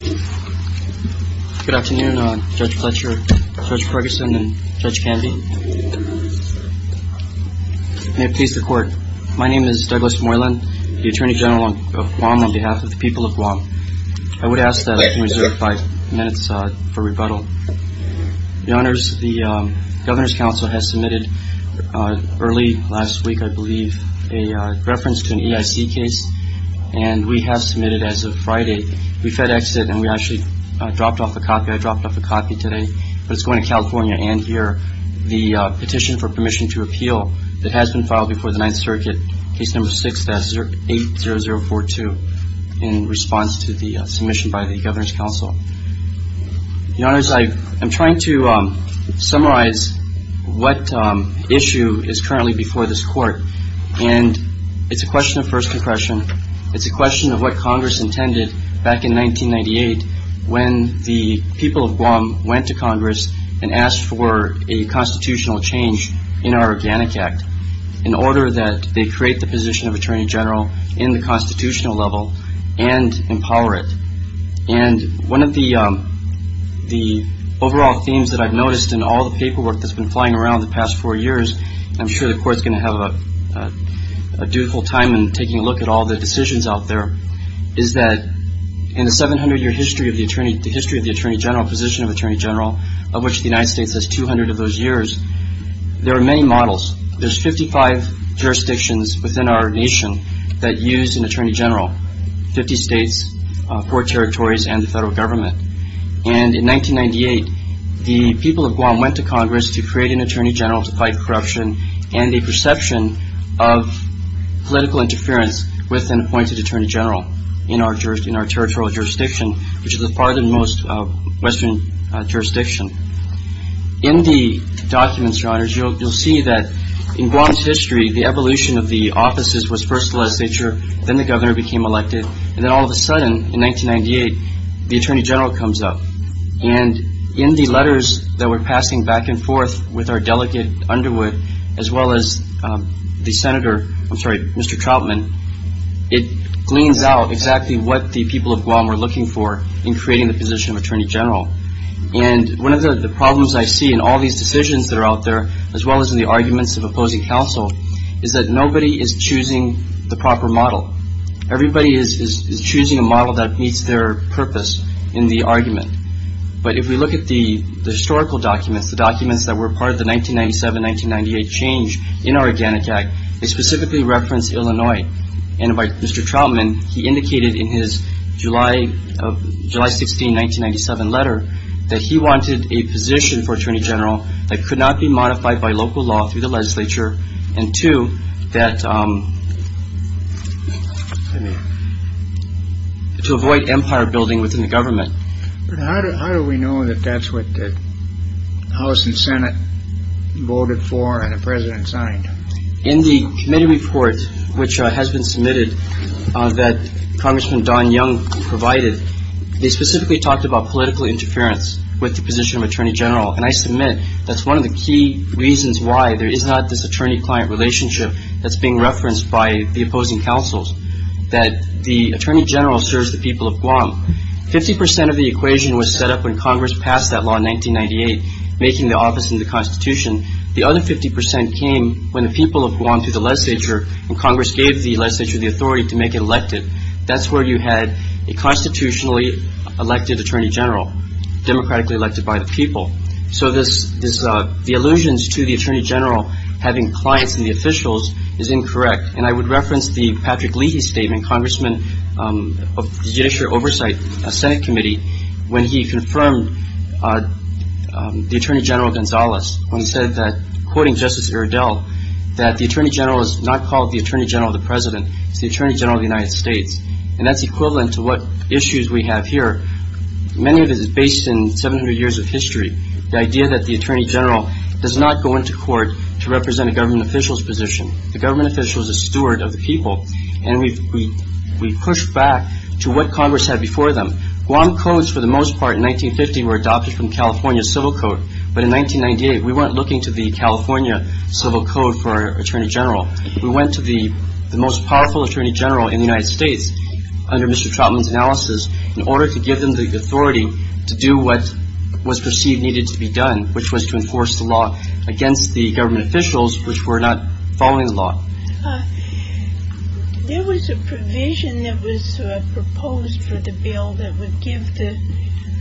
Good afternoon Judge Fletcher, Judge Ferguson, and Judge Canvey. May it please the court. My name is Douglas Moylan, the Atty. General of Guam on behalf of the people of Guam. I would ask that I can reserve five minutes for rebuttal. The Governor's Council has submitted early last week, I believe, a reference to an EIC case and we have submitted as of Friday. We fed exit and we actually dropped off a copy. I dropped off a copy today, but it's going to California and here. The petition for permission to appeal that has been filed before the Ninth Circuit, case number 680042 in response to the submission by the Governor's Council. I'm trying to summarize what issue is currently before this court and it's a question of first impression. It's a question of what Congress intended back in 1998 when the people of Guam went to Congress and asked for a constitutional change in our Organic Act in order that they create the position of Attorney General in the constitutional level and empower it. And one of the overall themes that I've noticed in all the paperwork that's been flying around the past four years, I'm sure the court's going to have a dutiful time in taking a look at all the decisions out there, is that in the 700-year history of the Attorney General position of Attorney General, of which the United States has 200 of those years, there are many models. There's 55 jurisdictions within our nation that use an Attorney General, 50 states, four territories and the federal government. And in 1998, the people of Guam went to Congress to create an Attorney General to fight corruption and a perception of political interference with an appointed Attorney General in our territorial jurisdiction, which is the farthest western jurisdiction. In the documents, Your Honors, you'll see that in Guam's history, the evolution of the offices was first the legislature, then the governor became elected, and then all of a sudden, in 1998, the Attorney General comes up. And in the letters that we're passing back and forth with our delegate, Underwood, as well as the senator, I'm sorry, Mr. Trautman, it gleans out exactly what the people of Guam were looking for in creating the position of Attorney General. And one of the problems I see in all these decisions that are out there, as well as in the arguments of opposing counsel, is that nobody is choosing the proper model. Everybody is choosing a model that meets their purpose in the argument. But if we look at the historical documents, the documents that were part of the 1997-1998 change in our Organic Act, they specifically reference Illinois. And by Mr. Trautman, he indicated in his July 16, 1997 letter that he wanted a position for Attorney General that could not be modified by local law through the legislature, and two, that to avoid empire building within the government. But how do we know that that's what the House and Senate voted for and the president signed? In the committee report, which has been submitted, that Congressman Don Young provided, they specifically talked about political interference with the position of Attorney General. And I submit that's one of the key reasons why there is not this attorney-client relationship that's being referenced by the opposing counsels, that the Attorney General serves the people of Guam. Fifty percent of the equation was set up when Congress passed that law in 1998, making the office in the Constitution. The other 50 percent came when the people of Guam, through the legislature, and Congress gave the legislature the authority to make it elected. That's where you had a constitutionally elected Attorney General, democratically elected by the people. So the allusions to the Attorney General having clients in the officials is incorrect. And I would reference the Patrick Leahy statement, Congressman of the Judiciary Oversight Senate Committee, when he confirmed the Attorney General Gonzalez, when he said that, quoting Justice Iredell, that the Attorney General is not called the Attorney General of the President. It's the Attorney General of the United States. And that's equivalent to what issues we have here. Many of it is based in 700 years of history, the idea that the Attorney General does not go into court to represent a government official's position. The government official is a steward of the people. And we've pushed back to what Congress had before them. Guam codes, for the most part, in 1950, were adopted from California civil code. But in 1998, we weren't looking to the California civil code for Attorney General. We went to the most powerful Attorney General in the United States, under Mr. Trotman's analysis, in order to give them the authority to do what was perceived needed to be done, which was to enforce the law against the government officials which were not following the law. There was a provision that was proposed for the bill that would give the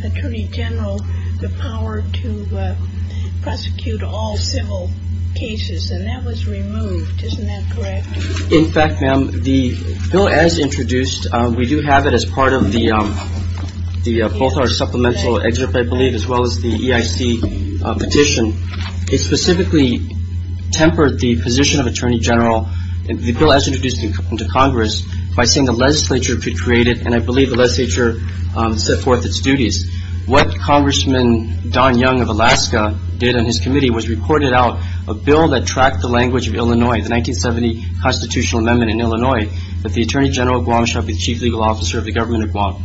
Attorney General the power to prosecute all civil cases. And that was removed. Isn't that correct? In fact, ma'am, the bill as introduced, we do have it as part of both our supplemental excerpt, I believe, as well as the EIC petition. It specifically tempered the position of Attorney General, the bill as introduced into Congress, by saying the legislature could create it, and I believe the legislature set forth its duties. What Congressman Don Young of Alaska did on his committee was report it out, a bill that tracked the language of Illinois, the 1970 constitutional amendment in Illinois, that the Attorney General of Guam shall be the chief legal officer of the government of Guam.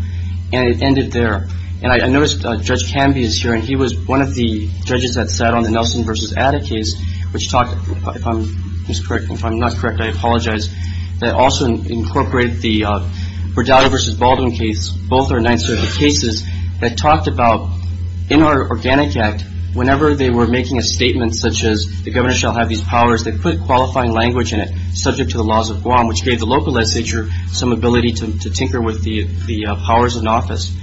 And it ended there. And I noticed Judge Canby is here, and he was one of the judges that sat on the Nelson v. Adda case, which talked, if I'm not correct, I apologize, that also incorporated the Verdado v. Baldwin case, both our 9th Circuit cases, that talked about in our Organic Act, whenever they were making a statement such as the governor shall have these powers, they put qualifying language in it subject to the laws of Guam, which gave the local legislature some ability to tinker with the powers in office.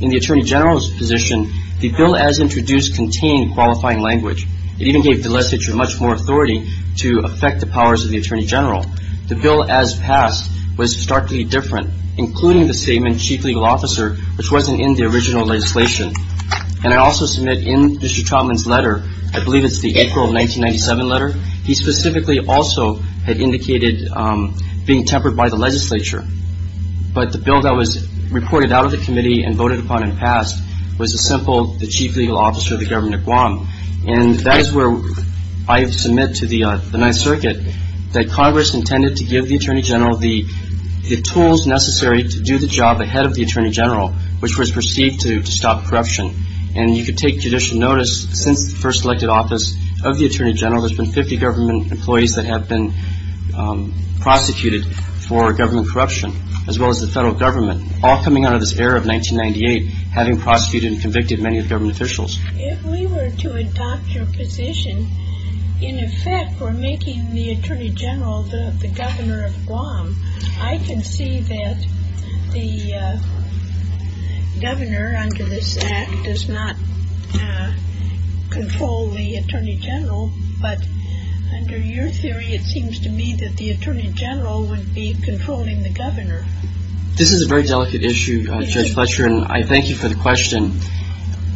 In the Attorney General's position, the bill as introduced contained qualifying language. It even gave the legislature much more authority to affect the powers of the Attorney General. The bill as passed was starkly different, including the statement chief legal officer, which wasn't in the original legislation. And I also submit in Mr. Trotman's letter, I believe it's the April 1997 letter, he specifically also had indicated being tempered by the legislature. But the bill that was reported out of the committee and voted upon and passed was a simple chief legal officer of the government of Guam. And that is where I submit to the 9th Circuit that Congress intended to give the Attorney General the tools necessary to do the job ahead of the Attorney General, which was perceived to stop corruption. And you could take judicial notice, since the first elected office of the Attorney General, there's been 50 government employees that have been prosecuted for government corruption, as well as the federal government, all coming out of this era of 1998, having prosecuted and convicted many of the government officials. If we were to adopt your position, in effect we're making the Attorney General the governor of Guam. I can see that the governor under this act does not control the Attorney General, but under your theory it seems to me that the Attorney General would be controlling the governor. This is a very delicate issue, Judge Fletcher, and I thank you for the question.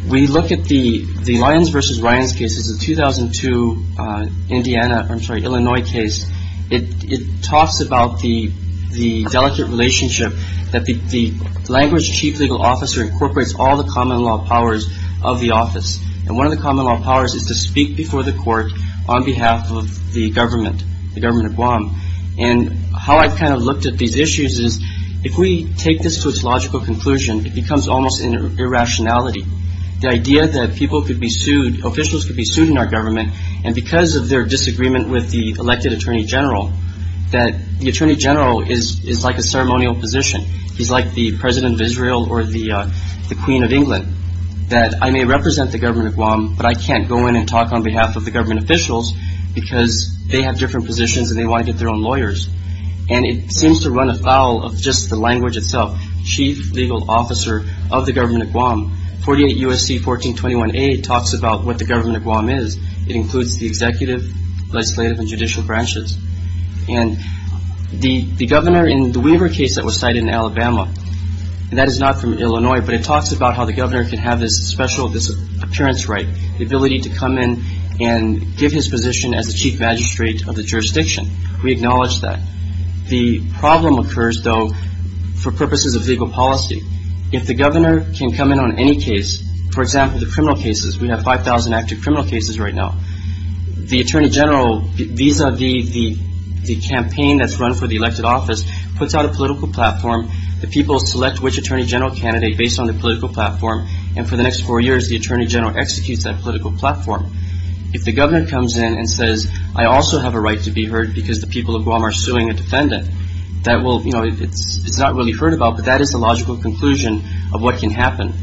We look at the Lyons v. Ryans case. It's a 2002 Indiana, I'm sorry, Illinois case. It talks about the delicate relationship that the language chief legal officer incorporates all the common law powers of the office. And one of the common law powers is to speak before the court on behalf of the government, the government of Guam. And how I've kind of looked at these issues is if we take this to its logical conclusion, it becomes almost an irrationality. The idea that people could be sued, officials could be sued in our government, and because of their disagreement with the elected Attorney General, that the Attorney General is like a ceremonial position. He's like the President of Israel or the Queen of England. I may represent the government of Guam, but I can't go in and talk on behalf of the government officials because they have different positions and they want to get their own lawyers. And it seems to run afoul of just the language itself, chief legal officer of the government of Guam. 48 U.S.C. 1421A talks about what the government of Guam is. It includes the executive, legislative, and judicial branches. And the governor in the Weaver case that was cited in Alabama, and that is not from Illinois, but it talks about how the governor can have this special appearance right, the ability to come in and give his position as the chief magistrate of the jurisdiction. We acknowledge that. The problem occurs, though, for purposes of legal policy. If the governor can come in on any case, for example, the criminal cases, we have 5,000 active criminal cases right now, the Attorney General, vis-a-vis the campaign that's run for the elected office, puts out a political platform. The people select which Attorney General candidate based on the political platform. And for the next four years, the Attorney General executes that political platform. If the governor comes in and says, I also have a right to be heard because the people of Guam are suing a defendant, that will, you know, it's not really heard about, but that is the logical conclusion of what can happen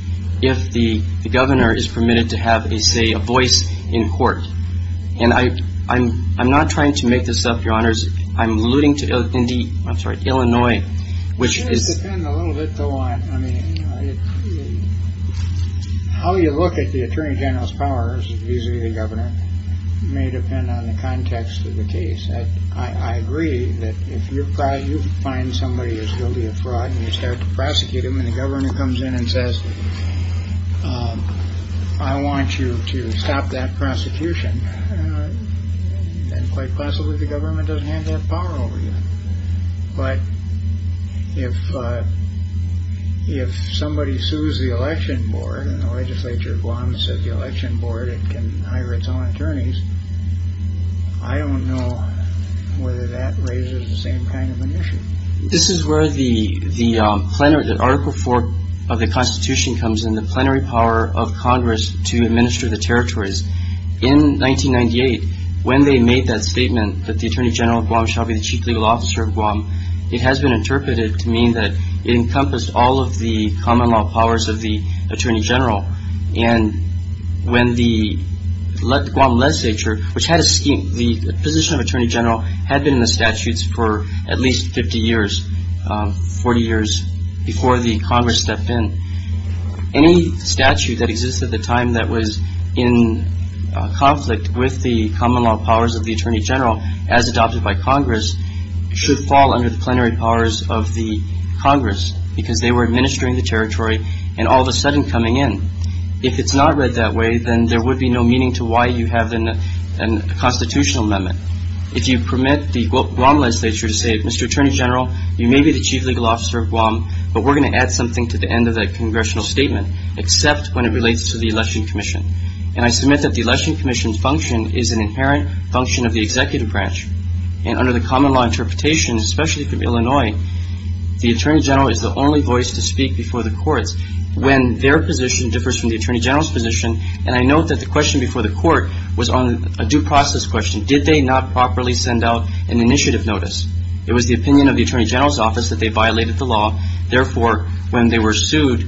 if the governor is permitted to have, say, a voice in court. And I'm not trying to make this up, Your Honors. I'm alluding to Indy. I'm sorry. Illinois, which is a little bit. I mean, how you look at the attorney general's powers, usually the governor may depend on the context of the case. I agree that if you find somebody who's guilty of fraud and you start to prosecute him and the governor comes in and says, I want you to stop that prosecution. Then quite possibly the government doesn't have that power over you. But if somebody sues the election board and the legislature of Guam says the election board can hire its own attorneys, I don't know whether that raises the same kind of an issue. This is where the article four of the Constitution comes in, the plenary power of Congress to administer the territories. In 1998, when they made that statement that the attorney general of Guam shall be the chief legal officer of Guam, it has been interpreted to mean that it encompassed all of the common law powers of the attorney general. And when the Guam legislature, which had a scheme, the position of attorney general had been in the statutes for at least 50 years, 40 years before the Congress stepped in. Any statute that exists at the time that was in conflict with the common law powers of the attorney general, as adopted by Congress, should fall under the plenary powers of the Congress, because they were administering the territory and all of a sudden coming in. If it's not read that way, then there would be no meaning to why you have a constitutional amendment. If you permit the Guam legislature to say, Mr. Attorney General, you may be the chief legal officer of Guam, but we're going to add something to the end of that congressional statement, except when it relates to the election commission. And I submit that the election commission's function is an inherent function of the executive branch. And under the common law interpretation, especially from Illinois, the attorney general is the only voice to speak before the courts when their position differs from the attorney general's position. And I note that the question before the court was on a due process question. Did they not properly send out an initiative notice? It was the opinion of the attorney general's office that they violated the law. Therefore, when they were sued,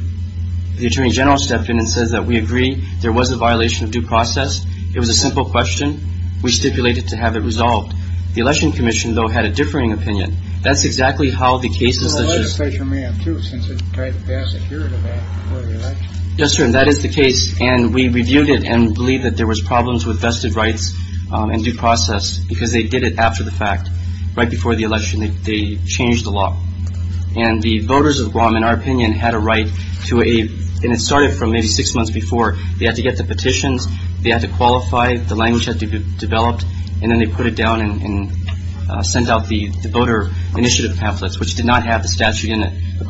the attorney general stepped in and says that we agree there was a violation of due process. It was a simple question. We stipulated to have it resolved. The election commission, though, had a differing opinion. That's exactly how the case is. The legislature may have, too, since it tried to pass a hearing of that before the election. Yes, sir. And that is the case. And we reviewed it and believe that there was problems with vested rights and due process because they did it after the fact. Right before the election, they changed the law and the voters of Guam, in our opinion, had a right to a. And it started from maybe six months before they had to get the petitions. They had to qualify. The language had to be developed. And then they put it down and sent out the voter initiative pamphlets, which did not have the statute in it. I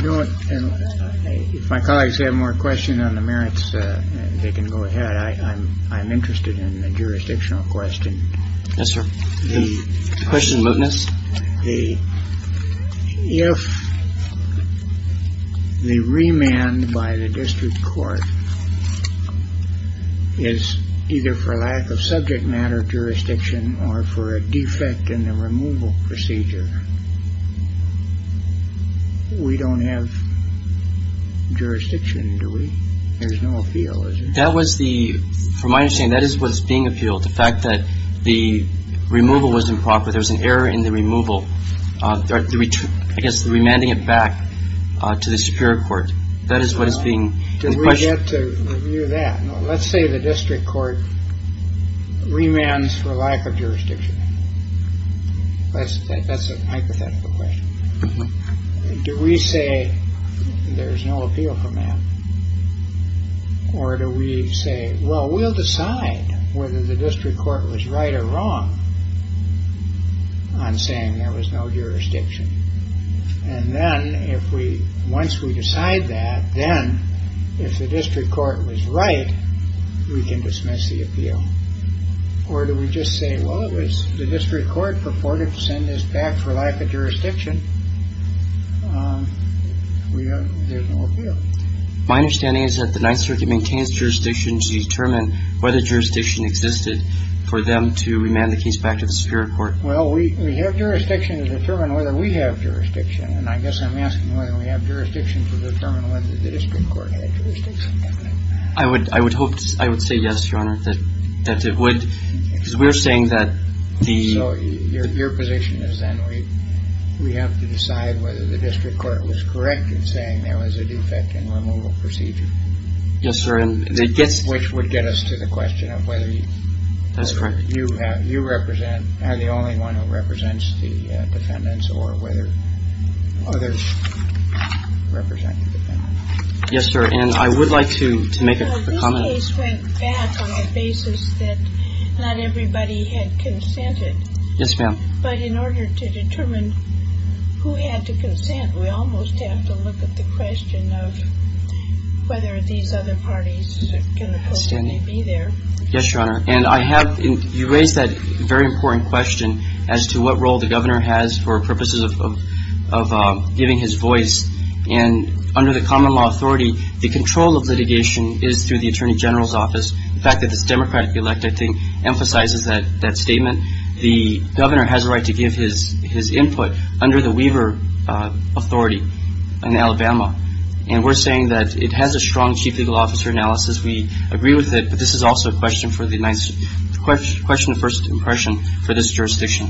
don't know if my colleagues have more questions on the merits. They can go ahead. I'm I'm interested in a jurisdictional question. Yes, sir. The question is the if the remand by the district court is either for lack of subject matter jurisdiction or for a defect in the removal procedure. We don't have jurisdiction, do we? There's no appeal. That was the from my understanding. That is what's being appealed. The fact that the removal was improper. There was an error in the removal. I guess the remanding it back to the superior court. That is what is being said. Let's say the district court remands for lack of jurisdiction. That's that's a hypothetical question. Do we say there's no appeal from that? Or do we say, well, we'll decide whether the district court was right or wrong on saying there was no jurisdiction. And then if we once we decide that, then if the district court was right, we can dismiss the appeal. Or do we just say, well, it was the district court purported to send us back for lack of jurisdiction. There's no appeal. My understanding is that the Ninth Circuit maintains jurisdiction to determine whether jurisdiction existed for them to remand the case back to the superior court. Well, we have jurisdiction to determine whether we have jurisdiction. And I guess I'm asking whether we have jurisdiction to determine whether the district court jurisdiction. I would I would hope I would say yes, Your Honor, that that's it. What we're saying that the your position is that we we have to decide whether the district court was correct in saying there was a defect in removal procedure. Yes, sir. And they guess which would get us to the question of whether that's correct. You have you represent the only one who represents the defendants or whether others represent. Yes, sir. And I would like to make a comment on the basis that not everybody had consented. Yes, ma'am. But in order to determine who had to consent, we almost have to look at the question of whether these other parties can be there. Yes, Your Honor. And I have you raised that very important question as to what role the governor has for purposes of giving his voice. And under the common law authority, the control of litigation is through the attorney general's office. The fact that this democratically elected thing emphasizes that that statement. The governor has a right to give his his input under the Weaver authority in Alabama. And we're saying that it has a strong chief legal officer analysis. We agree with it. But this is also a question for the question. First impression for this jurisdiction.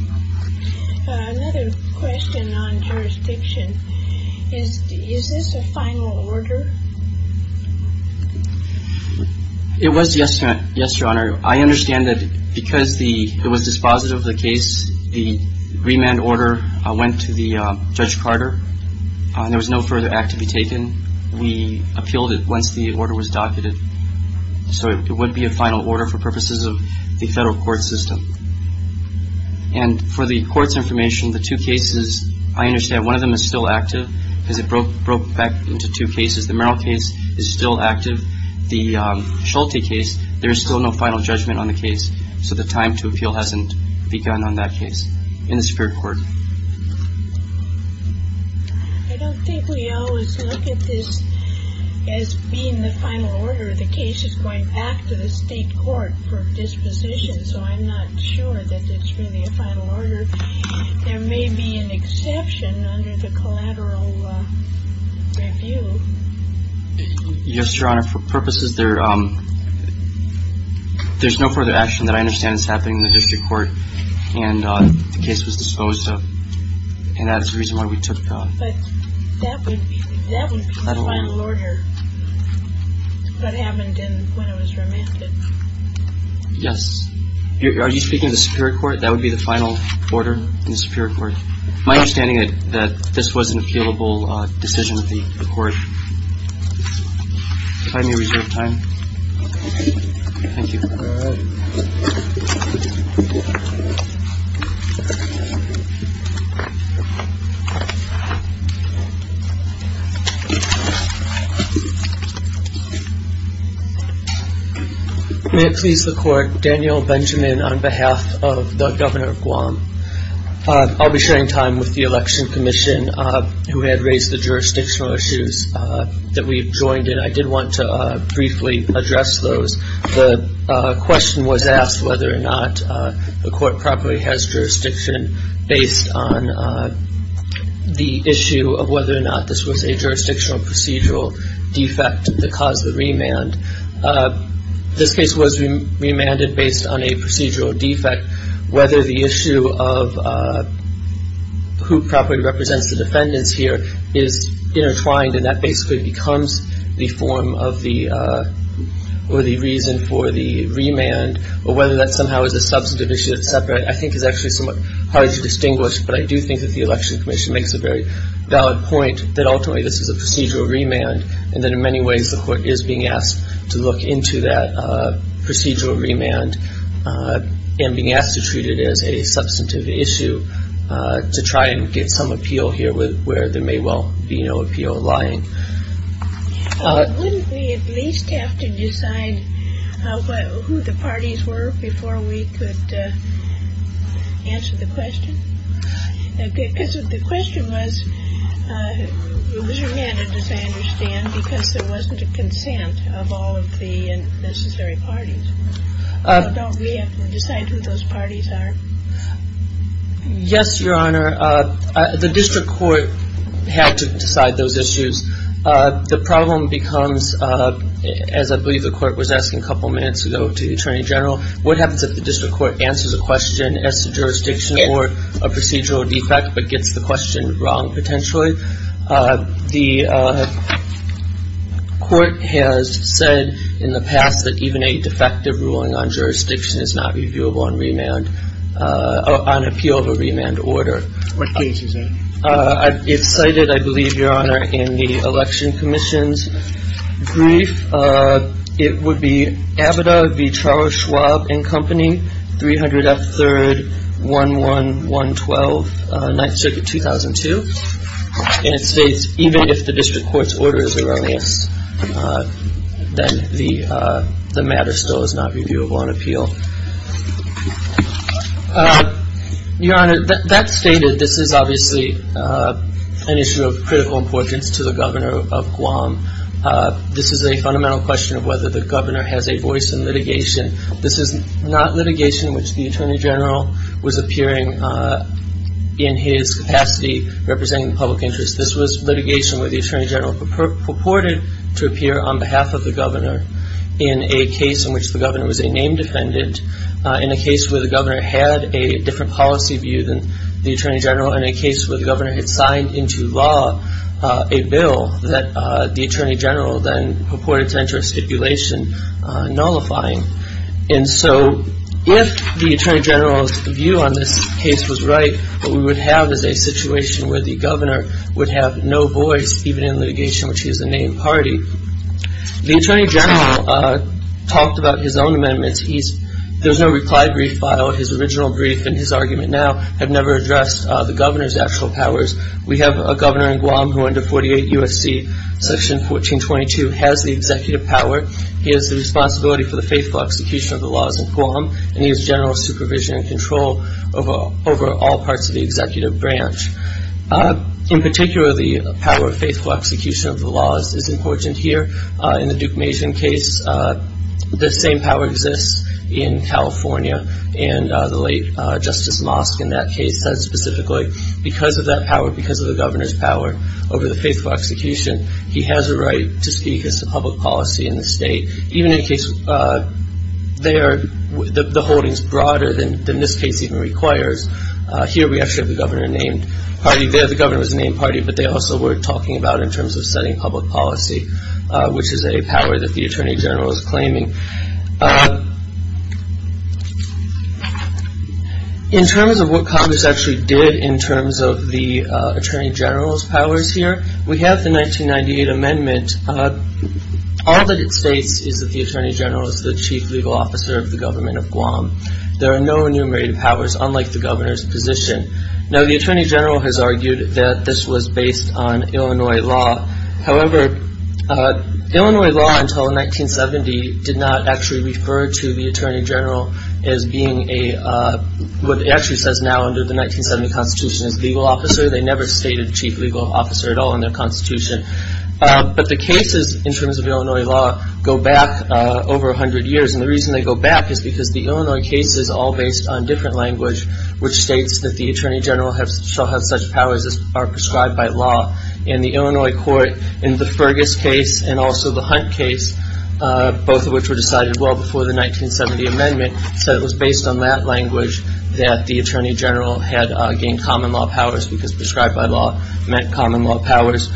Is this a final order? It was yesterday. Yes, Your Honor. I understand that because the it was dispositive of the case, the remand order went to the judge Carter. There was no further act to be taken. We appealed it once the order was docketed. So it would be a final order for purposes of the federal court system. And for the court's information, the two cases, I understand one of them is still active because it broke broke back into two cases. The Merrill case is still active. The Schulte case. There is still no final judgment on the case. So the time to appeal hasn't begun on that case. I don't think we always look at this as being the final order. The case is going back to the state court for disposition. So I'm not sure that it's really a final order. There may be an exception under the collateral review. Yes, Your Honor. For purposes there. There's no further action that I understand is happening in the district court. And the case was disposed of. And that's the reason why we took. That would be the final order. What happened when it was remanded. Yes. Are you speaking of the Superior Court? That would be the final order in the Superior Court. My understanding is that this was an appealable decision of the court. I reserve time. Thank you. May it please the court. Daniel Benjamin, on behalf of the governor of Guam. I'll be sharing time with the Election Commission who had raised the jurisdictional issues that we've joined in. I did want to briefly address those. The question was asked whether or not the court properly has jurisdiction based on the issue of whether or not this was a jurisdictional procedural defect that caused the remand. This case was remanded based on a procedural defect. Whether the issue of who properly represents the defendants here is intertwined, and that basically becomes the form of the or the reason for the remand, or whether that somehow is a substantive issue that's separate, I think is actually somewhat hard to distinguish. But I do think that the Election Commission makes a very valid point that ultimately this is a procedural remand. And that in many ways the court is being asked to look into that procedural remand and being asked to treat it as a substantive issue to try and get some appeal here where there may well be no appeal lying. Wouldn't we at least have to decide who the parties were before we could answer the question? Because the question was remanded, as I understand, because there wasn't a consent of all of the necessary parties. Don't we have to decide who those parties are? Yes, Your Honor. The district court had to decide those issues. The problem becomes, as I believe the court was asking a couple minutes ago to the Attorney General, what happens if the district court answers a question as to jurisdiction or a procedural defect but gets the question wrong potentially? The court has said in the past that even a defective ruling on jurisdiction is not reviewable on appeal of a remand order. What case is that? It's cited, I believe, Your Honor, in the Election Commission's brief. It would be AVIDA v. Charles Schwab and Company, 300 F. 3rd, 11112, 9th Circuit, 2002. And it states even if the district court's order is a remand, then the matter still is not reviewable on appeal. Your Honor, that's stated. This is obviously an issue of critical importance to the Governor of Guam. This is a fundamental question of whether the Governor has a voice in litigation. This is not litigation which the Attorney General was appearing in his capacity representing the public interest. This was litigation where the Attorney General purported to appear on behalf of the Governor in a case in which the Governor was a named defendant, in a case where the Governor had a different policy view than the Attorney General, and a case where the Governor had signed into law a bill that the Attorney General then purported to enter a stipulation nullifying. And so if the Attorney General's view on this case was right, what we would have is a situation where the Governor would have no voice even in litigation which he is a named party. The Attorney General talked about his own amendments. There's no reply brief file. His original brief and his argument now have never addressed the Governor's actual powers. We have a Governor in Guam who under 48 U.S.C. Section 1422 has the executive power. He has the responsibility for the faithful execution of the laws in Guam, and he has general supervision and control over all parts of the executive branch. In particular, the power of faithful execution of the laws is important here. In the Duke Mason case, the same power exists in California, and the late Justice Mosk in that case said specifically because of that power, because of the Governor's power over the faithful execution, he has a right to speak as to public policy in the state, even in a case where the holding is broader than this case even requires. Here we actually have the Governor named party. There the Governor was named party, but they also were talking about in terms of setting public policy, which is a power that the Attorney General is claiming. In terms of what Congress actually did in terms of the Attorney General's powers here, we have the 1998 Amendment. All that it states is that the Attorney General is the chief legal officer of the Government of Guam. There are no enumerated powers, unlike the Governor's position. Now, the Attorney General has argued that this was based on Illinois law. However, Illinois law until 1970 did not actually refer to the Attorney General as being what it actually says now under the 1970 Constitution as legal officer. They never stated chief legal officer at all in their Constitution. But the cases in terms of Illinois law go back over 100 years, and the reason they go back is because the Illinois case is all based on different language, which states that the Attorney General shall have such powers as are prescribed by law. And the Illinois court in the Fergus case and also the Hunt case, both of which were decided well before the 1970 Amendment, said it was based on that language that the Attorney General had gained common law powers because prescribed by law meant common law powers.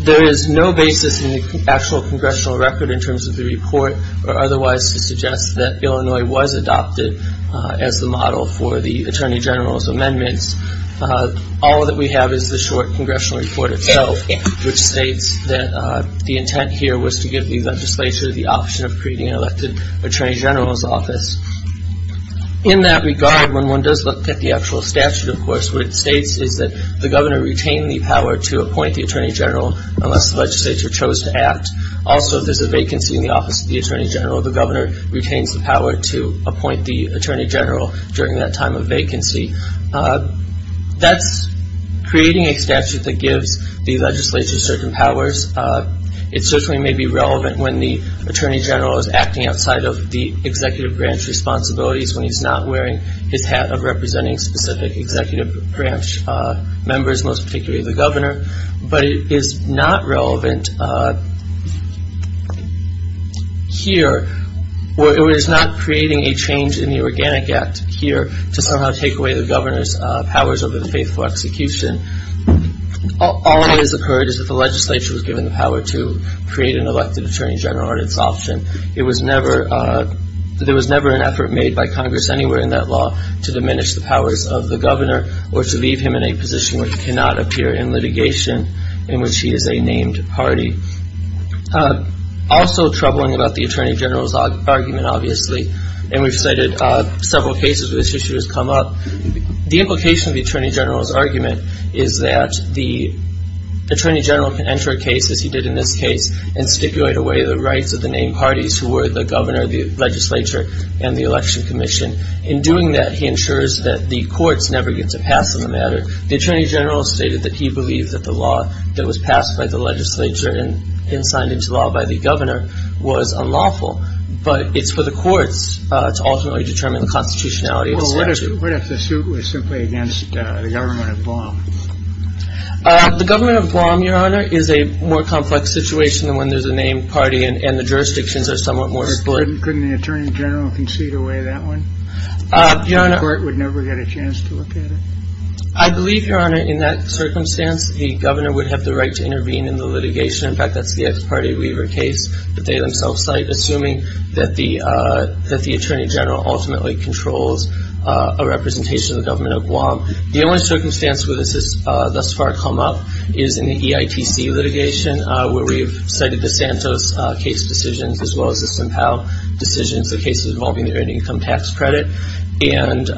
There is no basis in the actual congressional record in terms of the report or otherwise to suggest that Illinois was adopted as the model for the Attorney General's amendments. All that we have is the short congressional report itself, which states that the intent here was to give the legislature the option of creating an elected Attorney General's office. In that regard, when one does look at the actual statute, of course, what it states is that the governor retained the power to appoint the Attorney General unless the legislature chose to act. Also, if there's a vacancy in the office of the Attorney General, the governor retains the power to appoint the Attorney General during that time of vacancy. That's creating a statute that gives the legislature certain powers. It certainly may be relevant when the Attorney General is acting outside of the executive branch responsibilities, when he's not wearing his hat of representing specific executive branch members, most particularly the governor. But it is not relevant here, or it is not creating a change in the Organic Act here to somehow take away the governor's powers over the faithful execution. All that has occurred is that the legislature was given the power to create an elected Attorney General at its option. There was never an effort made by Congress anywhere in that law to diminish the powers of the governor or to leave him in a position where he cannot appear in litigation in which he is a named party. Also troubling about the Attorney General's argument, obviously, and we've cited several cases where this issue has come up, the implication of the Attorney General's argument is that the Attorney General can enter a case, as he did in this case, and stipulate away the rights of the named parties who were the governor, the legislature, and the election commission. In doing that, he ensures that the courts never get to pass on the matter. The Attorney General stated that he believed that the law that was passed by the legislature and signed into law by the governor was unlawful, but it's for the courts to ultimately determine the constitutionality of the statute. Well, what if the suit was simply against the government of Guam? The government of Guam, Your Honor, is a more complex situation than when there's a named party and the jurisdictions are somewhat more split. Couldn't the Attorney General concede away that one? The court would never get a chance to look at it. I believe, Your Honor, in that circumstance, the governor would have the right to intervene in the litigation. In fact, that's the ex parte Weaver case that they themselves cite, assuming that the Attorney General ultimately controls a representation of the government of Guam. The only circumstance where this has thus far come up is in the EITC litigation, where we've cited the Santos case decisions as well as the Simpao decisions, the cases involving the earned income tax credit. And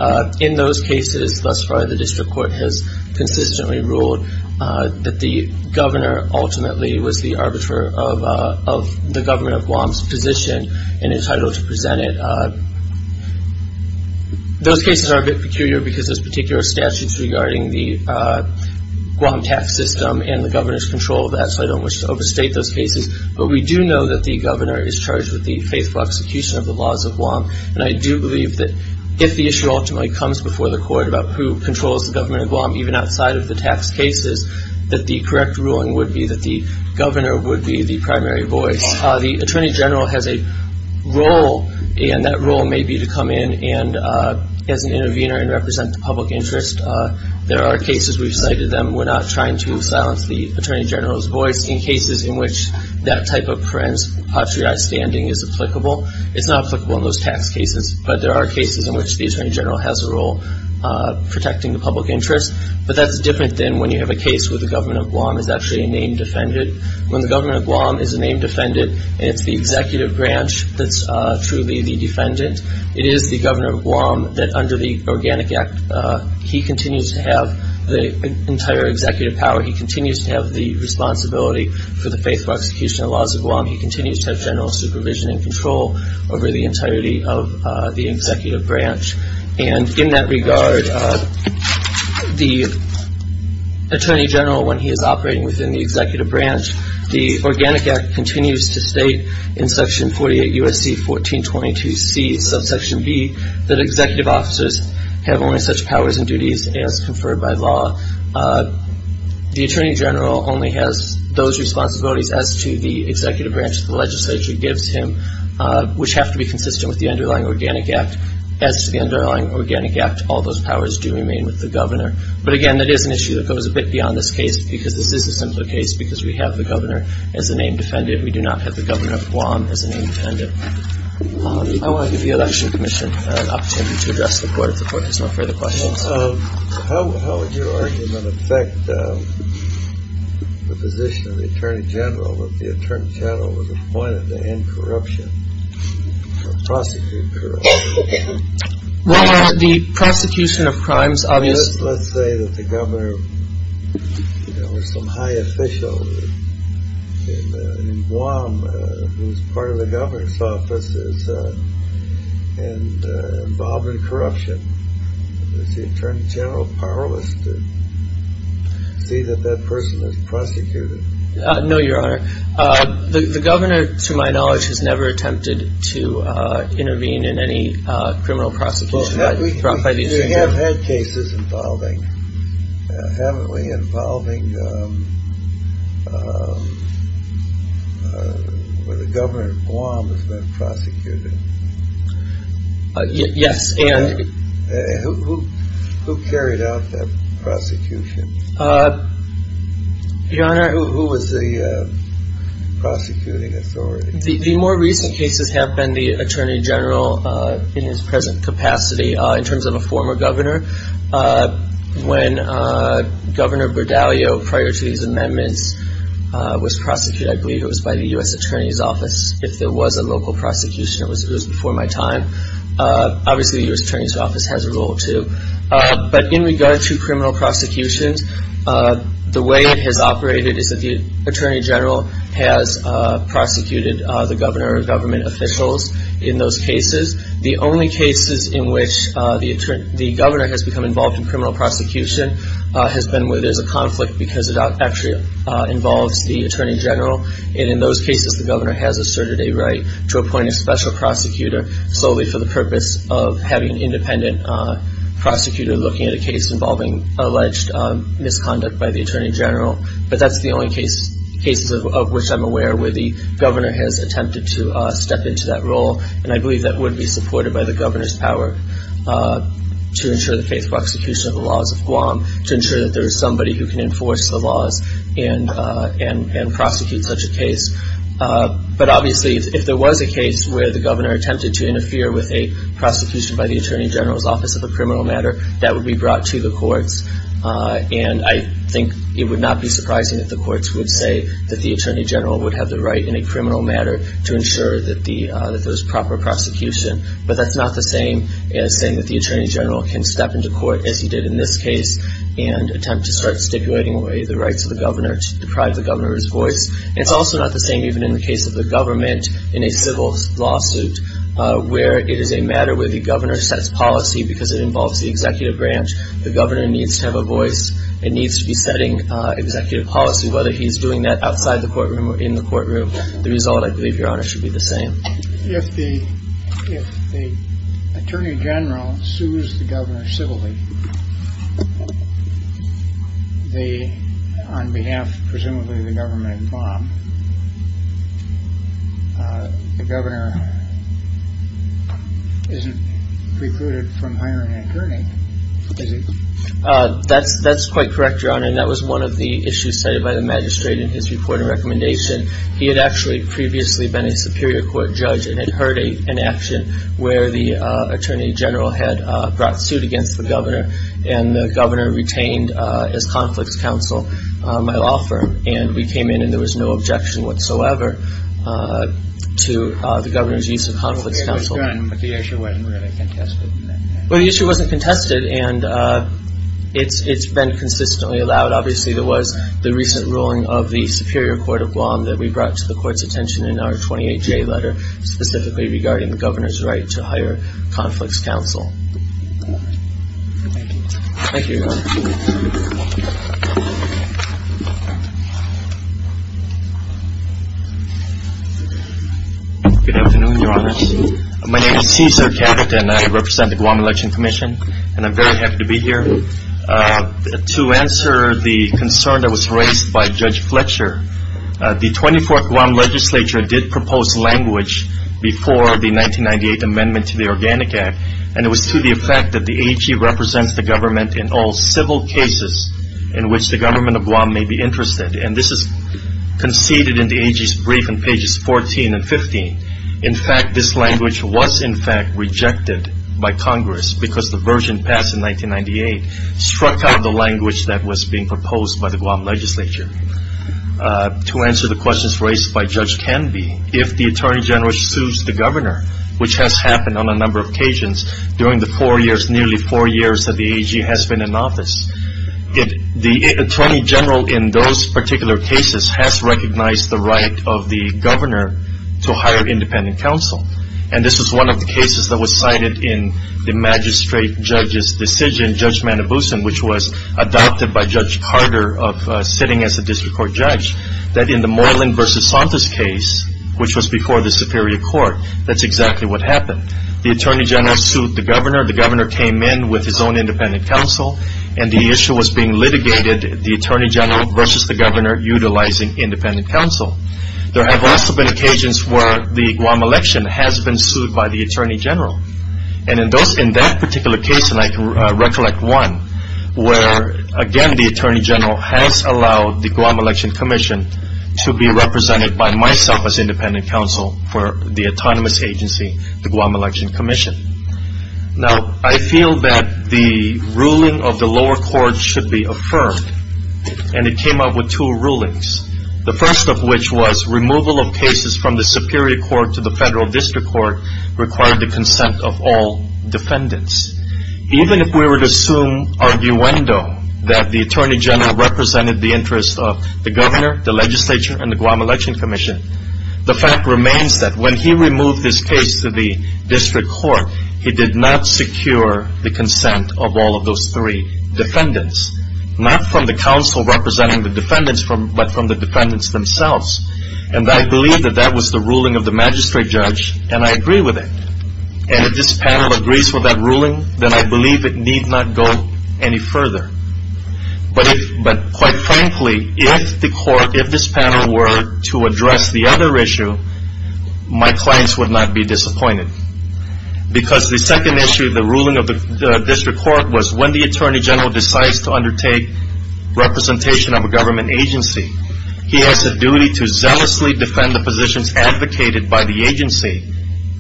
in those cases, thus far, the district court has consistently ruled that the governor ultimately was the arbiter of the government of Guam's position and entitled to present it. Those cases are a bit peculiar because there's particular statutes regarding the Guam tax system and the governor's control of that, so I don't wish to overstate those cases. But we do know that the governor is charged with the faithful execution of the laws of Guam. And I do believe that if the issue ultimately comes before the court about who controls the government of Guam, even outside of the tax cases, that the correct ruling would be that the governor would be the primary voice. The Attorney General has a role, and that role may be to come in as an intervener and represent the public interest. There are cases, we've cited them, we're not trying to silence the Attorney General's voice in cases in which that type of patriotic standing is applicable. It's not applicable in those tax cases, but there are cases in which the Attorney General has a role protecting the public interest. But that's different than when you have a case where the government of Guam is actually a name defended. When the government of Guam is a name defended, and it's the executive branch that's truly the defendant, it is the governor of Guam that under the Organic Act, he continues to have the entire executive power. He continues to have the responsibility for the faithful execution of the laws of Guam. He continues to have general supervision and control over the entirety of the executive branch. And in that regard, the Attorney General, when he is operating within the executive branch, the Organic Act continues to state in Section 48 U.S.C. 1422C, subsection B, that executive officers have only such powers and duties as conferred by law. The Attorney General only has those responsibilities as to the executive branch the legislature gives him, which have to be consistent with the underlying Organic Act. As to the underlying Organic Act, all those powers do remain with the governor. But, again, that is an issue that goes a bit beyond this case because this is a simpler case because we have the governor as a name defended. We do not have the governor of Guam as a name defended. I want to give the Election Commission an opportunity to address the Court if the Court has no further questions. How would your argument affect the position of the Attorney General, if the Attorney General was appointed to end corruption or prosecute corruption? Well, the prosecution of crimes, obviously. Let's say that the governor was some high official in Guam, whose part of the governor's office is involved in corruption. Does the Attorney General powerless to see that that person is prosecuted? No, Your Honor. The governor, to my knowledge, has never attempted to intervene in any criminal prosecution brought by the Attorney General. You have had cases involving, haven't we, involving where the governor of Guam has been prosecuted? Yes. Who carried out that prosecution? Your Honor. Who was the prosecuting authority? The more recent cases have been the Attorney General in his present capacity. In terms of a former governor, when Governor Berdallio, prior to these amendments, was prosecuted, I believe it was by the U.S. Attorney's Office, if there was a local prosecution. It was before my time. Obviously, the U.S. Attorney's Office has a role, too. But in regard to criminal prosecutions, the way it has operated is that the Attorney General has prosecuted the governor or government officials in those cases. The only cases in which the governor has become involved in criminal prosecution has been where there's a conflict because it actually involves the Attorney General. And in those cases, the governor has asserted a right to appoint a special prosecutor solely for the purpose of having an independent prosecutor looking at a case involving alleged misconduct by the Attorney General. But that's the only cases of which I'm aware where the governor has attempted to step into that role. And I believe that would be supported by the governor's power to ensure the faithful execution of the laws of Guam, to ensure that there is somebody who can enforce the laws and prosecute such a case. But obviously, if there was a case where the governor attempted to interfere with a prosecution by the Attorney General's Office of a criminal matter, that would be brought to the courts. And I think it would not be surprising if the courts would say that the Attorney General would have the right in a criminal matter to ensure that there's proper prosecution. But that's not the same as saying that the Attorney General can step into court, as he did in this case, and attempt to start stipulating away the rights of the governor to deprive the governor's voice. It's also not the same even in the case of the government in a civil lawsuit, where it is a matter where the governor sets policy because it involves the executive branch. The governor needs to have a voice and needs to be setting executive policy, whether he's doing that outside the courtroom or in the courtroom. The result, I believe, Your Honor, should be the same. If the Attorney General sues the governor civilly on behalf, presumably, of the government, Bob, the governor isn't recruited from hiring an attorney, is he? That's quite correct, Your Honor. And that was one of the issues cited by the magistrate in his report and recommendation. He had actually previously been a Superior Court judge and had heard an action where the Attorney General had brought suit against the governor, and the governor retained as Conflicts Counsel my law firm. And we came in and there was no objection whatsoever to the governor's use of Conflicts Counsel. Well, the issue was done, but the issue wasn't really contested in that case. Well, the issue wasn't contested, and it's been consistently allowed. But, obviously, there was the recent ruling of the Superior Court of Guam that we brought to the Court's attention in our 28-J letter, specifically regarding the governor's right to hire Conflicts Counsel. Thank you. Thank you, Your Honor. Good afternoon, Your Honor. My name is Cesar Cabot, and I represent the Guam Election Commission, and I'm very happy to be here. To answer the concern that was raised by Judge Fletcher, the 24th Guam Legislature did propose language before the 1998 Amendment to the Organic Act, and it was to the effect that the AG represents the government in all civil cases in which the government of Guam may be interested. And this is conceded in the AG's brief in pages 14 and 15. In fact, this language was, in fact, rejected by Congress because the version passed in 1998 struck out the language that was being proposed by the Guam Legislature. To answer the questions raised by Judge Canby, if the Attorney General sues the governor, which has happened on a number of occasions during the four years, nearly four years, that the AG has been in office, the Attorney General in those particular cases has recognized the right of the governor to hire independent counsel. And this was one of the cases that was cited in the magistrate judge's decision, Judge Manobusan, which was adopted by Judge Carter of sitting as a district court judge, that in the Moreland v. Santos case, which was before the Superior Court, that's exactly what happened. The Attorney General sued the governor. The governor came in with his own independent counsel, and the issue was being litigated, the Attorney General versus the governor utilizing independent counsel. There have also been occasions where the Guam election has been sued by the Attorney General. And in that particular case, and I can recollect one, where, again, the Attorney General has allowed the Guam Election Commission to be represented by myself as independent counsel for the autonomous agency, the Guam Election Commission. Now, I feel that the ruling of the lower court should be affirmed, and it came up with two rulings. The first of which was removal of cases from the Superior Court to the Federal District Court required the consent of all defendants. Even if we were to assume arguendo that the Attorney General represented the interests of the governor, the legislature, and the Guam Election Commission, the fact remains that when he removed his case to the District Court, he did not secure the consent of all of those three defendants. Not from the counsel representing the defendants, but from the defendants themselves. And I believe that that was the ruling of the magistrate judge, and I agree with it. And if this panel agrees with that ruling, then I believe it need not go any further. But quite frankly, if this panel were to address the other issue, my clients would not be disappointed. Because the second issue of the ruling of the District Court was when the Attorney General decides to undertake representation of a government agency, he has a duty to zealously defend the positions advocated by the agency.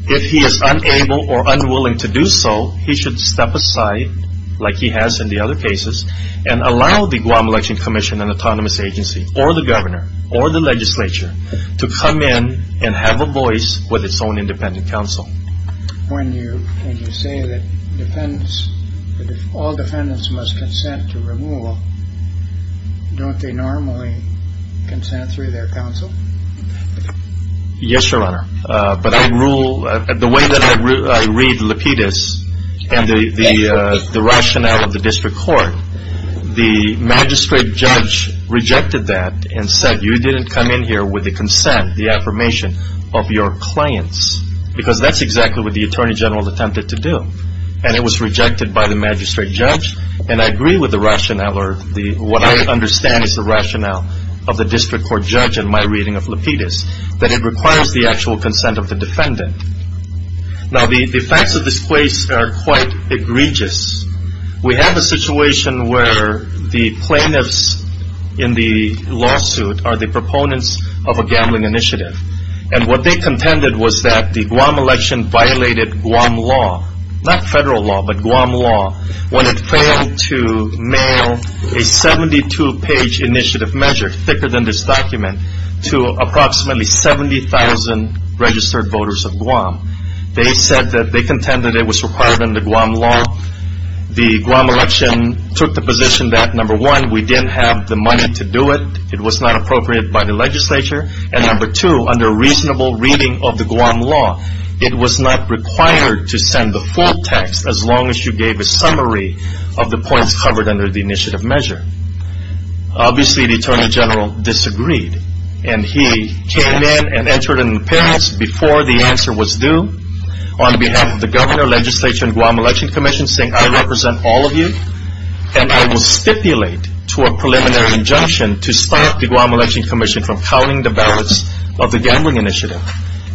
If he is unable or unwilling to do so, he should step aside, like he has in the other cases, and allow the Guam Election Commission, an autonomous agency, or the governor, or the legislature, to come in and have a voice with its own independent counsel. When you say that all defendants must consent to removal, don't they normally consent through their counsel? Yes, Your Honor. But the way that I read Lapidus and the rationale of the District Court, the magistrate judge rejected that and said, you didn't come in here with the consent, the affirmation of your clients. Because that's exactly what the Attorney General attempted to do. And it was rejected by the magistrate judge. And I agree with the rationale, or what I understand is the rationale of the District Court judge in my reading of Lapidus, that it requires the actual consent of the defendant. Now the facts of this case are quite egregious. We have a situation where the plaintiffs in the lawsuit are the proponents of a gambling initiative. And what they contended was that the Guam election violated Guam law. Not federal law, but Guam law. When it failed to mail a 72-page initiative measure, thicker than this document, to approximately 70,000 registered voters of Guam, they said that they contended it was required under Guam law. The Guam election took the position that, number one, we didn't have the money to do it. It was not appropriate by the legislature. And number two, under reasonable reading of the Guam law, it was not required to send the full text as long as you gave a summary of the points covered under the initiative measure. Obviously, the Attorney General disagreed. And he came in and entered an appearance before the answer was due, on behalf of the governor, legislature, and Guam election commission, saying, I represent all of you, and I will stipulate to a preliminary injunction to stop the Guam election commission from counting the ballots of the gambling initiative.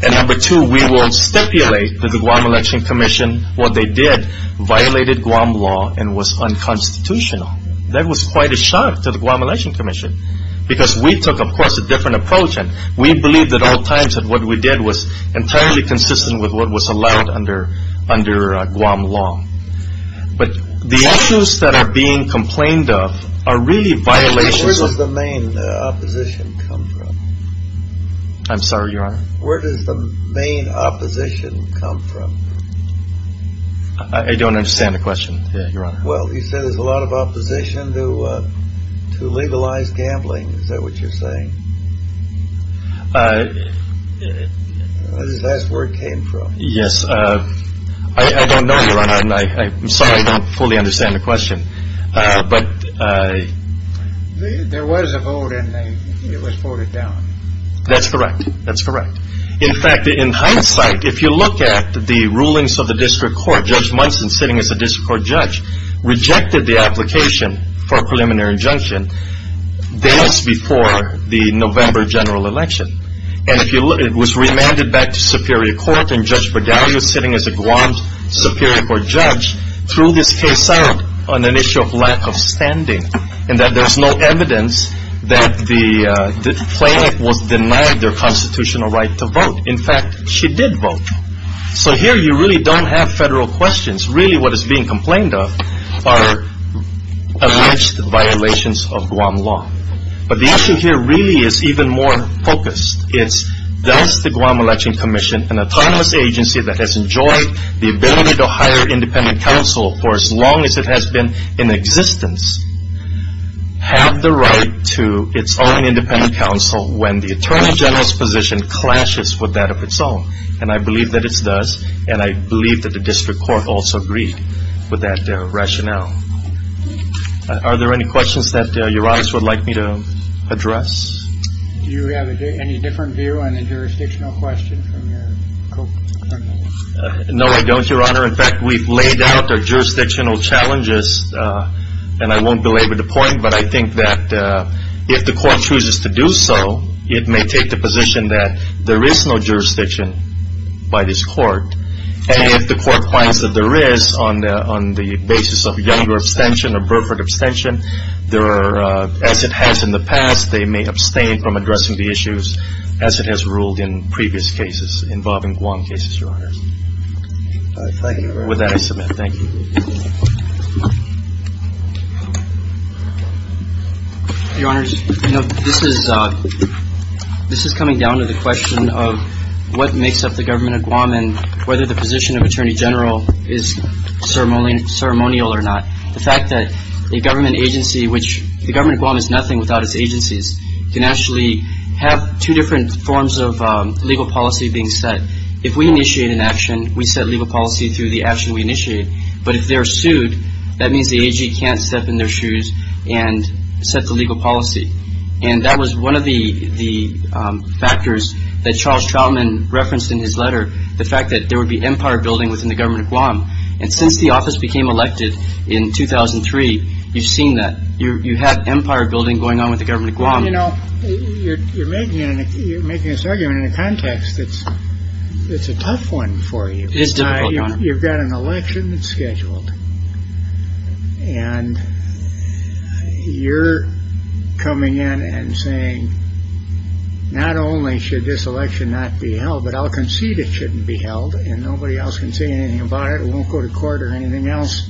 And number two, we will stipulate to the Guam election commission what they did violated Guam law and was unconstitutional. That was quite a shock to the Guam election commission, because we took, of course, a different approach, and we believed at all times that what we did was entirely consistent with what was allowed under Guam law. But the issues that are being complained of are really violations of... Where does the main opposition come from? I'm sorry, Your Honor? Where does the main opposition come from? I don't understand the question, Your Honor. Well, you said there's a lot of opposition to legalized gambling. Is that what you're saying? That's where it came from. Yes. I don't know, Your Honor, and I'm sorry I don't fully understand the question, but... There was a vote, and it was voted down. That's correct. That's correct. In fact, in hindsight, if you look at the rulings of the district court, Judge Munson, sitting as a district court judge, rejected the application for a preliminary injunction days before the November general election. And it was remanded back to superior court, and Judge Bregalio, sitting as a Guam superior court judge, threw this case out on an issue of lack of standing in that there's no evidence that the plaintiff was denied their constitutional right to vote. In fact, she did vote. So here, you really don't have federal questions. Really, what is being complained of are alleged violations of Guam law. But the issue here really is even more focused. It's, does the Guam Election Commission, an autonomous agency that has enjoyed the ability to hire independent counsel for as long as it has been in existence, have the right to its own independent counsel when the attorney general's position clashes with that of its own? And I believe that it does, and I believe that the district court also agreed with that rationale. Are there any questions that Your Honor would like me to address? Do you have any different view on the jurisdictional question from your co-criminal? No, I don't, Your Honor. In fact, we've laid out the jurisdictional challenges, and I won't belabor the point, but I think that if the court chooses to do so, it may take the position that there is no jurisdiction by this court. And if the court finds that there is on the basis of younger abstention or Burford abstention, as it has in the past, they may abstain from addressing the issues as it has ruled in previous cases involving Guam cases, Your Honor. Thank you very much. With that, I submit. Thank you. Your Honor, you know, this is coming down to the question of what makes up the government of Guam and whether the position of attorney general is ceremonial or not. The fact that a government agency, which the government of Guam is nothing without its agencies, can actually have two different forms of legal policy being set. If we initiate an action, we set legal policy through the action we initiate. But if they're sued, that means the agency can't step in their shoes and set the legal policy. And that was one of the factors that Charles Troutman referenced in his letter, the fact that there would be empire building within the government of Guam. And since the office became elected in 2003, you've seen that. You know, you're making you're making this argument in a context that's it's a tough one for you. You've got an election scheduled. And you're coming in and saying, not only should this election not be held, but I'll concede it shouldn't be held. And nobody else can say anything about it. Won't go to court or anything else.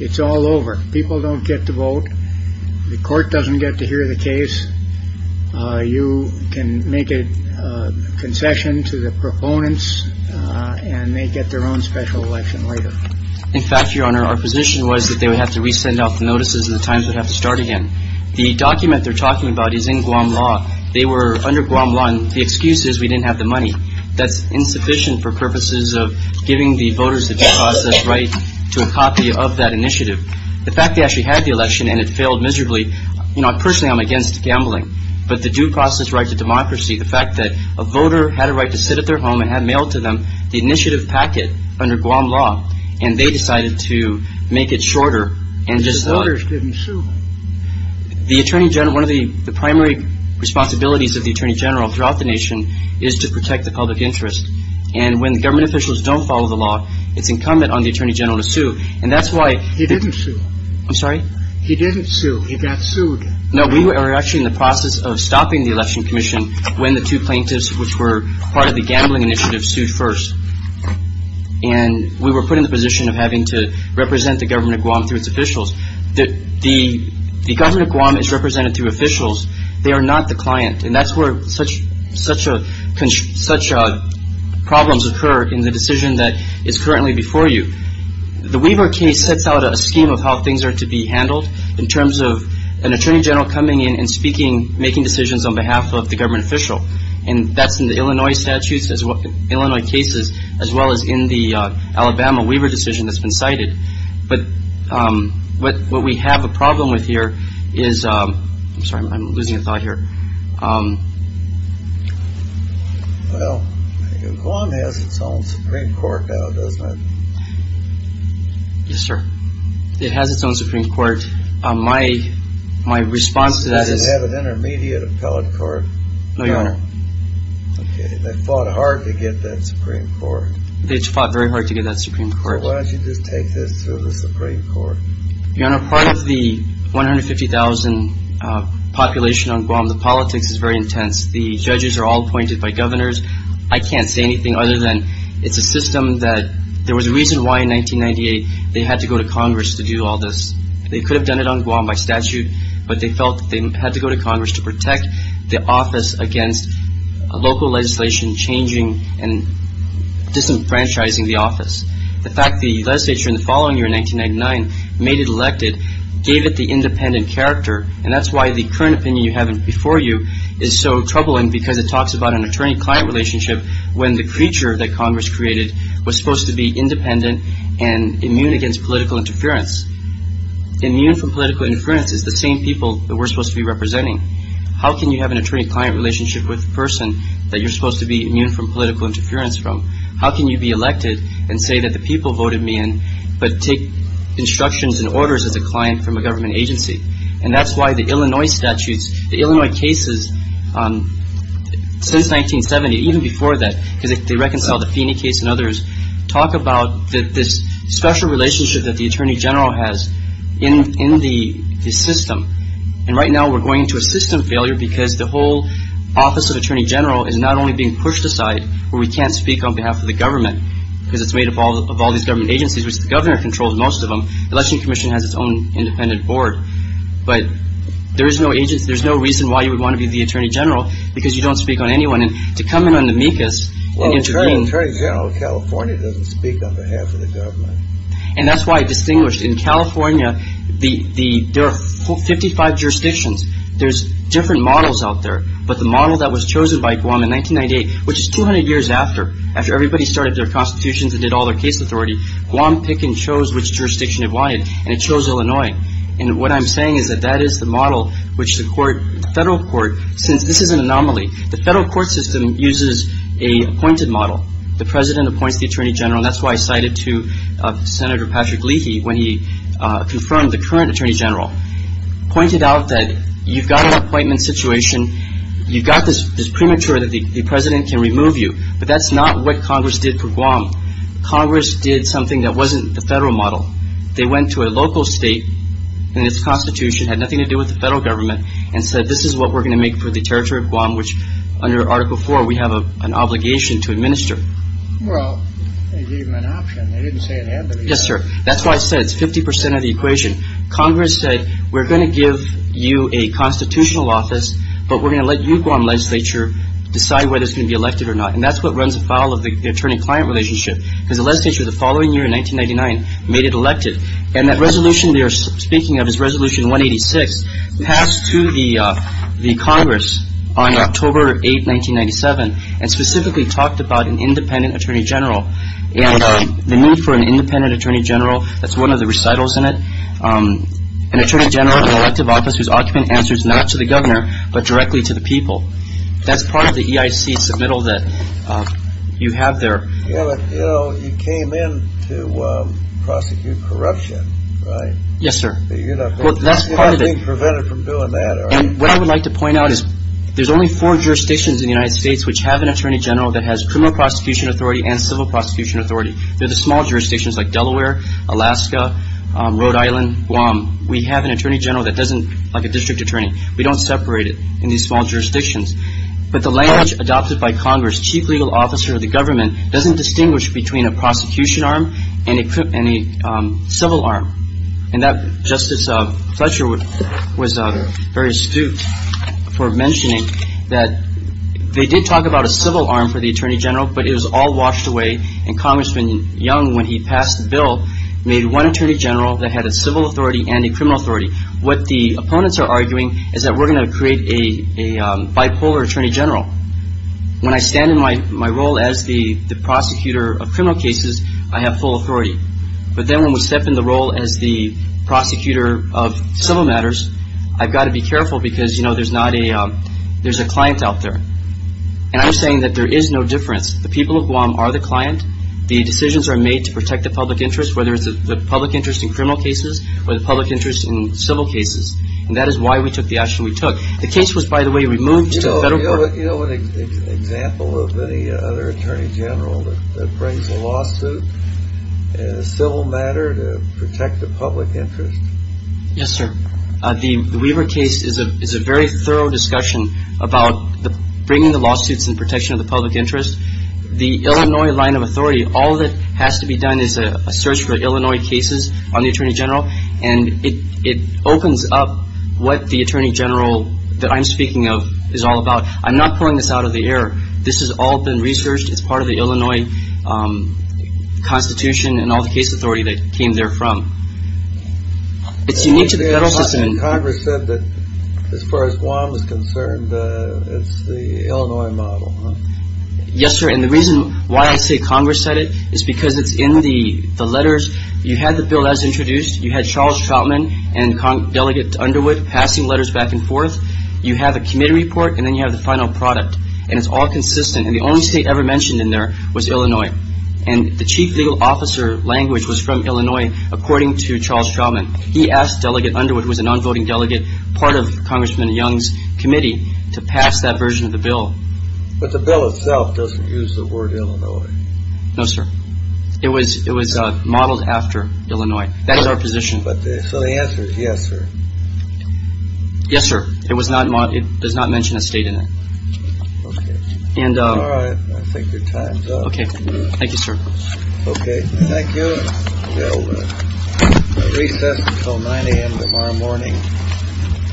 It's all over. People don't get to vote. The court doesn't get to hear the case. You can make a concession to the proponents and they get their own special election later. In fact, Your Honor, our position was that they would have to resend out the notices. The Times would have to start again. The document they're talking about is in Guam law. They were under Guam one. The excuse is we didn't have the money. That's insufficient for purposes of giving the voters the right to a copy of that initiative. The fact they actually had the election and it failed miserably. You know, personally, I'm against gambling, but the due process right to democracy, the fact that a voter had a right to sit at their home and had mailed to them the initiative packet under Guam law. And they decided to make it shorter. And just the voters didn't. The attorney general, one of the primary responsibilities of the attorney general throughout the nation, is to protect the public interest. And when government officials don't follow the law, it's incumbent on the attorney general to sue. And that's why he didn't sue. I'm sorry. He didn't sue. He got sued. No, we were actually in the process of stopping the election commission when the two plaintiffs, which were part of the gambling initiative, sued first. And we were put in the position of having to represent the government of Guam through its officials. The government of Guam is represented through officials. They are not the client. And that's where such problems occur in the decision that is currently before you. The Weaver case sets out a scheme of how things are to be handled in terms of an attorney general coming in and speaking, making decisions on behalf of the government official. And that's in the Illinois statutes, Illinois cases, as well as in the Alabama Weaver decision that's been cited. But what we have a problem with here is – I'm sorry, I'm losing a thought here. Well, Guam has its own Supreme Court now, doesn't it? Yes, sir. It has its own Supreme Court. My response to that is – Doesn't it have an intermediate appellate court? No, Your Honor. Okay. They fought hard to get that Supreme Court. They fought very hard to get that Supreme Court. Why don't you just take this to the Supreme Court? Your Honor, part of the 150,000 population on Guam, the politics is very intense. The judges are all appointed by governors. I can't say anything other than it's a system that – there was a reason why in 1998 they had to go to Congress to do all this. They could have done it on Guam by statute, but they felt they had to go to Congress to protect the office against local legislation changing and disenfranchising the office. The fact the legislature in the following year, 1999, made it elected gave it the independent character, and that's why the current opinion you have before you is so troubling because it talks about an attorney-client relationship when the creature that Congress created was supposed to be independent and immune against political interference. Immune from political interference is the same people that we're supposed to be representing. How can you have an attorney-client relationship with a person that you're supposed to be immune from political interference from? How can you be elected and say that the people voted me in but take instructions and orders as a client from a government agency? And that's why the Illinois statutes, the Illinois cases since 1970, even before that, because they reconciled the Feeney case and others, talk about this special relationship that the attorney general has in the system. And right now we're going to a system failure because the whole office of attorney general is not only being pushed aside where we can't speak on behalf of the government because it's made up of all these government agencies, which the governor controls most of them. The election commission has its own independent board. But there is no reason why you would want to be the attorney general because you don't speak on anyone. And to come in on the MECAS and intervene— Well, the attorney general of California doesn't speak on behalf of the government. And that's why I distinguished. In California, there are 55 jurisdictions. There's different models out there. But the model that was chosen by Guam in 1998, which is 200 years after, after everybody started their constitutions and did all their case authority, Guam picked and chose which jurisdiction it wanted, and it chose Illinois. And what I'm saying is that that is the model which the court, the federal court, since this is an anomaly, the federal court system uses a appointed model. The president appoints the attorney general. That's why I cited to Senator Patrick Leahy when he confirmed the current attorney general, pointed out that you've got an appointment situation. You've got this premature that the president can remove you. But that's not what Congress did for Guam. Congress did something that wasn't the federal model. They went to a local state and its constitution had nothing to do with the federal government and said this is what we're going to make for the territory of Guam, which under Article IV we have an obligation to administer. Well, they gave him an option. They didn't say it had to be that. Yes, sir. That's why I said it's 50 percent of the equation. Congress said we're going to give you a constitutional office, but we're going to let you, Guam legislature, decide whether it's going to be elected or not. And that's what runs afoul of the attorney-client relationship, because the legislature the following year in 1999 made it elected. And that resolution they are speaking of is Resolution 186, passed to the Congress on October 8, 1997, and specifically talked about an independent attorney general. And the need for an independent attorney general, that's one of the recitals in it, an attorney general in an elective office whose occupant answers not to the governor, but directly to the people. That's part of the EIC submittal that you have there. You know, you came in to prosecute corruption, right? Yes, sir. You're not being prevented from doing that, are you? And what I would like to point out is there's only four jurisdictions in the United States which have an attorney general that has criminal prosecution authority and civil prosecution authority. They're the small jurisdictions like Delaware, Alaska, Rhode Island, Guam. We have an attorney general that doesn't like a district attorney. We don't separate it in these small jurisdictions. But the language adopted by Congress, chief legal officer of the government, doesn't distinguish between a prosecution arm and a civil arm. And Justice Fletcher was very astute for mentioning that they did talk about a civil arm for the attorney general, but it was all washed away, and Congressman Young, when he passed the bill, made one attorney general that had a civil authority and a criminal authority. What the opponents are arguing is that we're going to create a bipolar attorney general. When I stand in my role as the prosecutor of criminal cases, I have full authority. But then when we step in the role as the prosecutor of civil matters, I've got to be careful because, you know, there's a client out there. And I'm saying that there is no difference. The people of Guam are the client. The decisions are made to protect the public interest, whether it's the public interest in criminal cases or the public interest in civil cases. And that is why we took the action we took. The case was, by the way, removed to the federal court. Do you know an example of any other attorney general that brings a lawsuit in a civil matter to protect the public interest? Yes, sir. The Weaver case is a very thorough discussion about bringing the lawsuits in protection of the public interest. The Illinois line of authority, all that has to be done is a search for Illinois cases on the attorney general, and it opens up what the attorney general that I'm speaking of is all about. I'm not pulling this out of the air. This has all been researched. It's part of the Illinois Constitution and all the case authority that came there from. It's unique to the federal system. Congress said that as far as Guam is concerned, it's the Illinois model. Yes, sir. And the reason why I say Congress said it is because it's in the letters. You had the bill as introduced. You had Charles Troutman and Delegate Underwood passing letters back and forth. You have a committee report, and then you have the final product, and it's all consistent. And the only state ever mentioned in there was Illinois. And the chief legal officer language was from Illinois, according to Charles Troutman. He asked Delegate Underwood, who was a non-voting delegate, part of Congressman Young's committee, to pass that version of the bill. But the bill itself doesn't use the word Illinois. No, sir. It was modeled after Illinois. That is our position. So the answer is yes, sir. Yes, sir. It was not. It does not mention a state in it. And I think your time's up. OK. Thank you, sir. OK. Thank you. Recess until 9 a.m. tomorrow morning.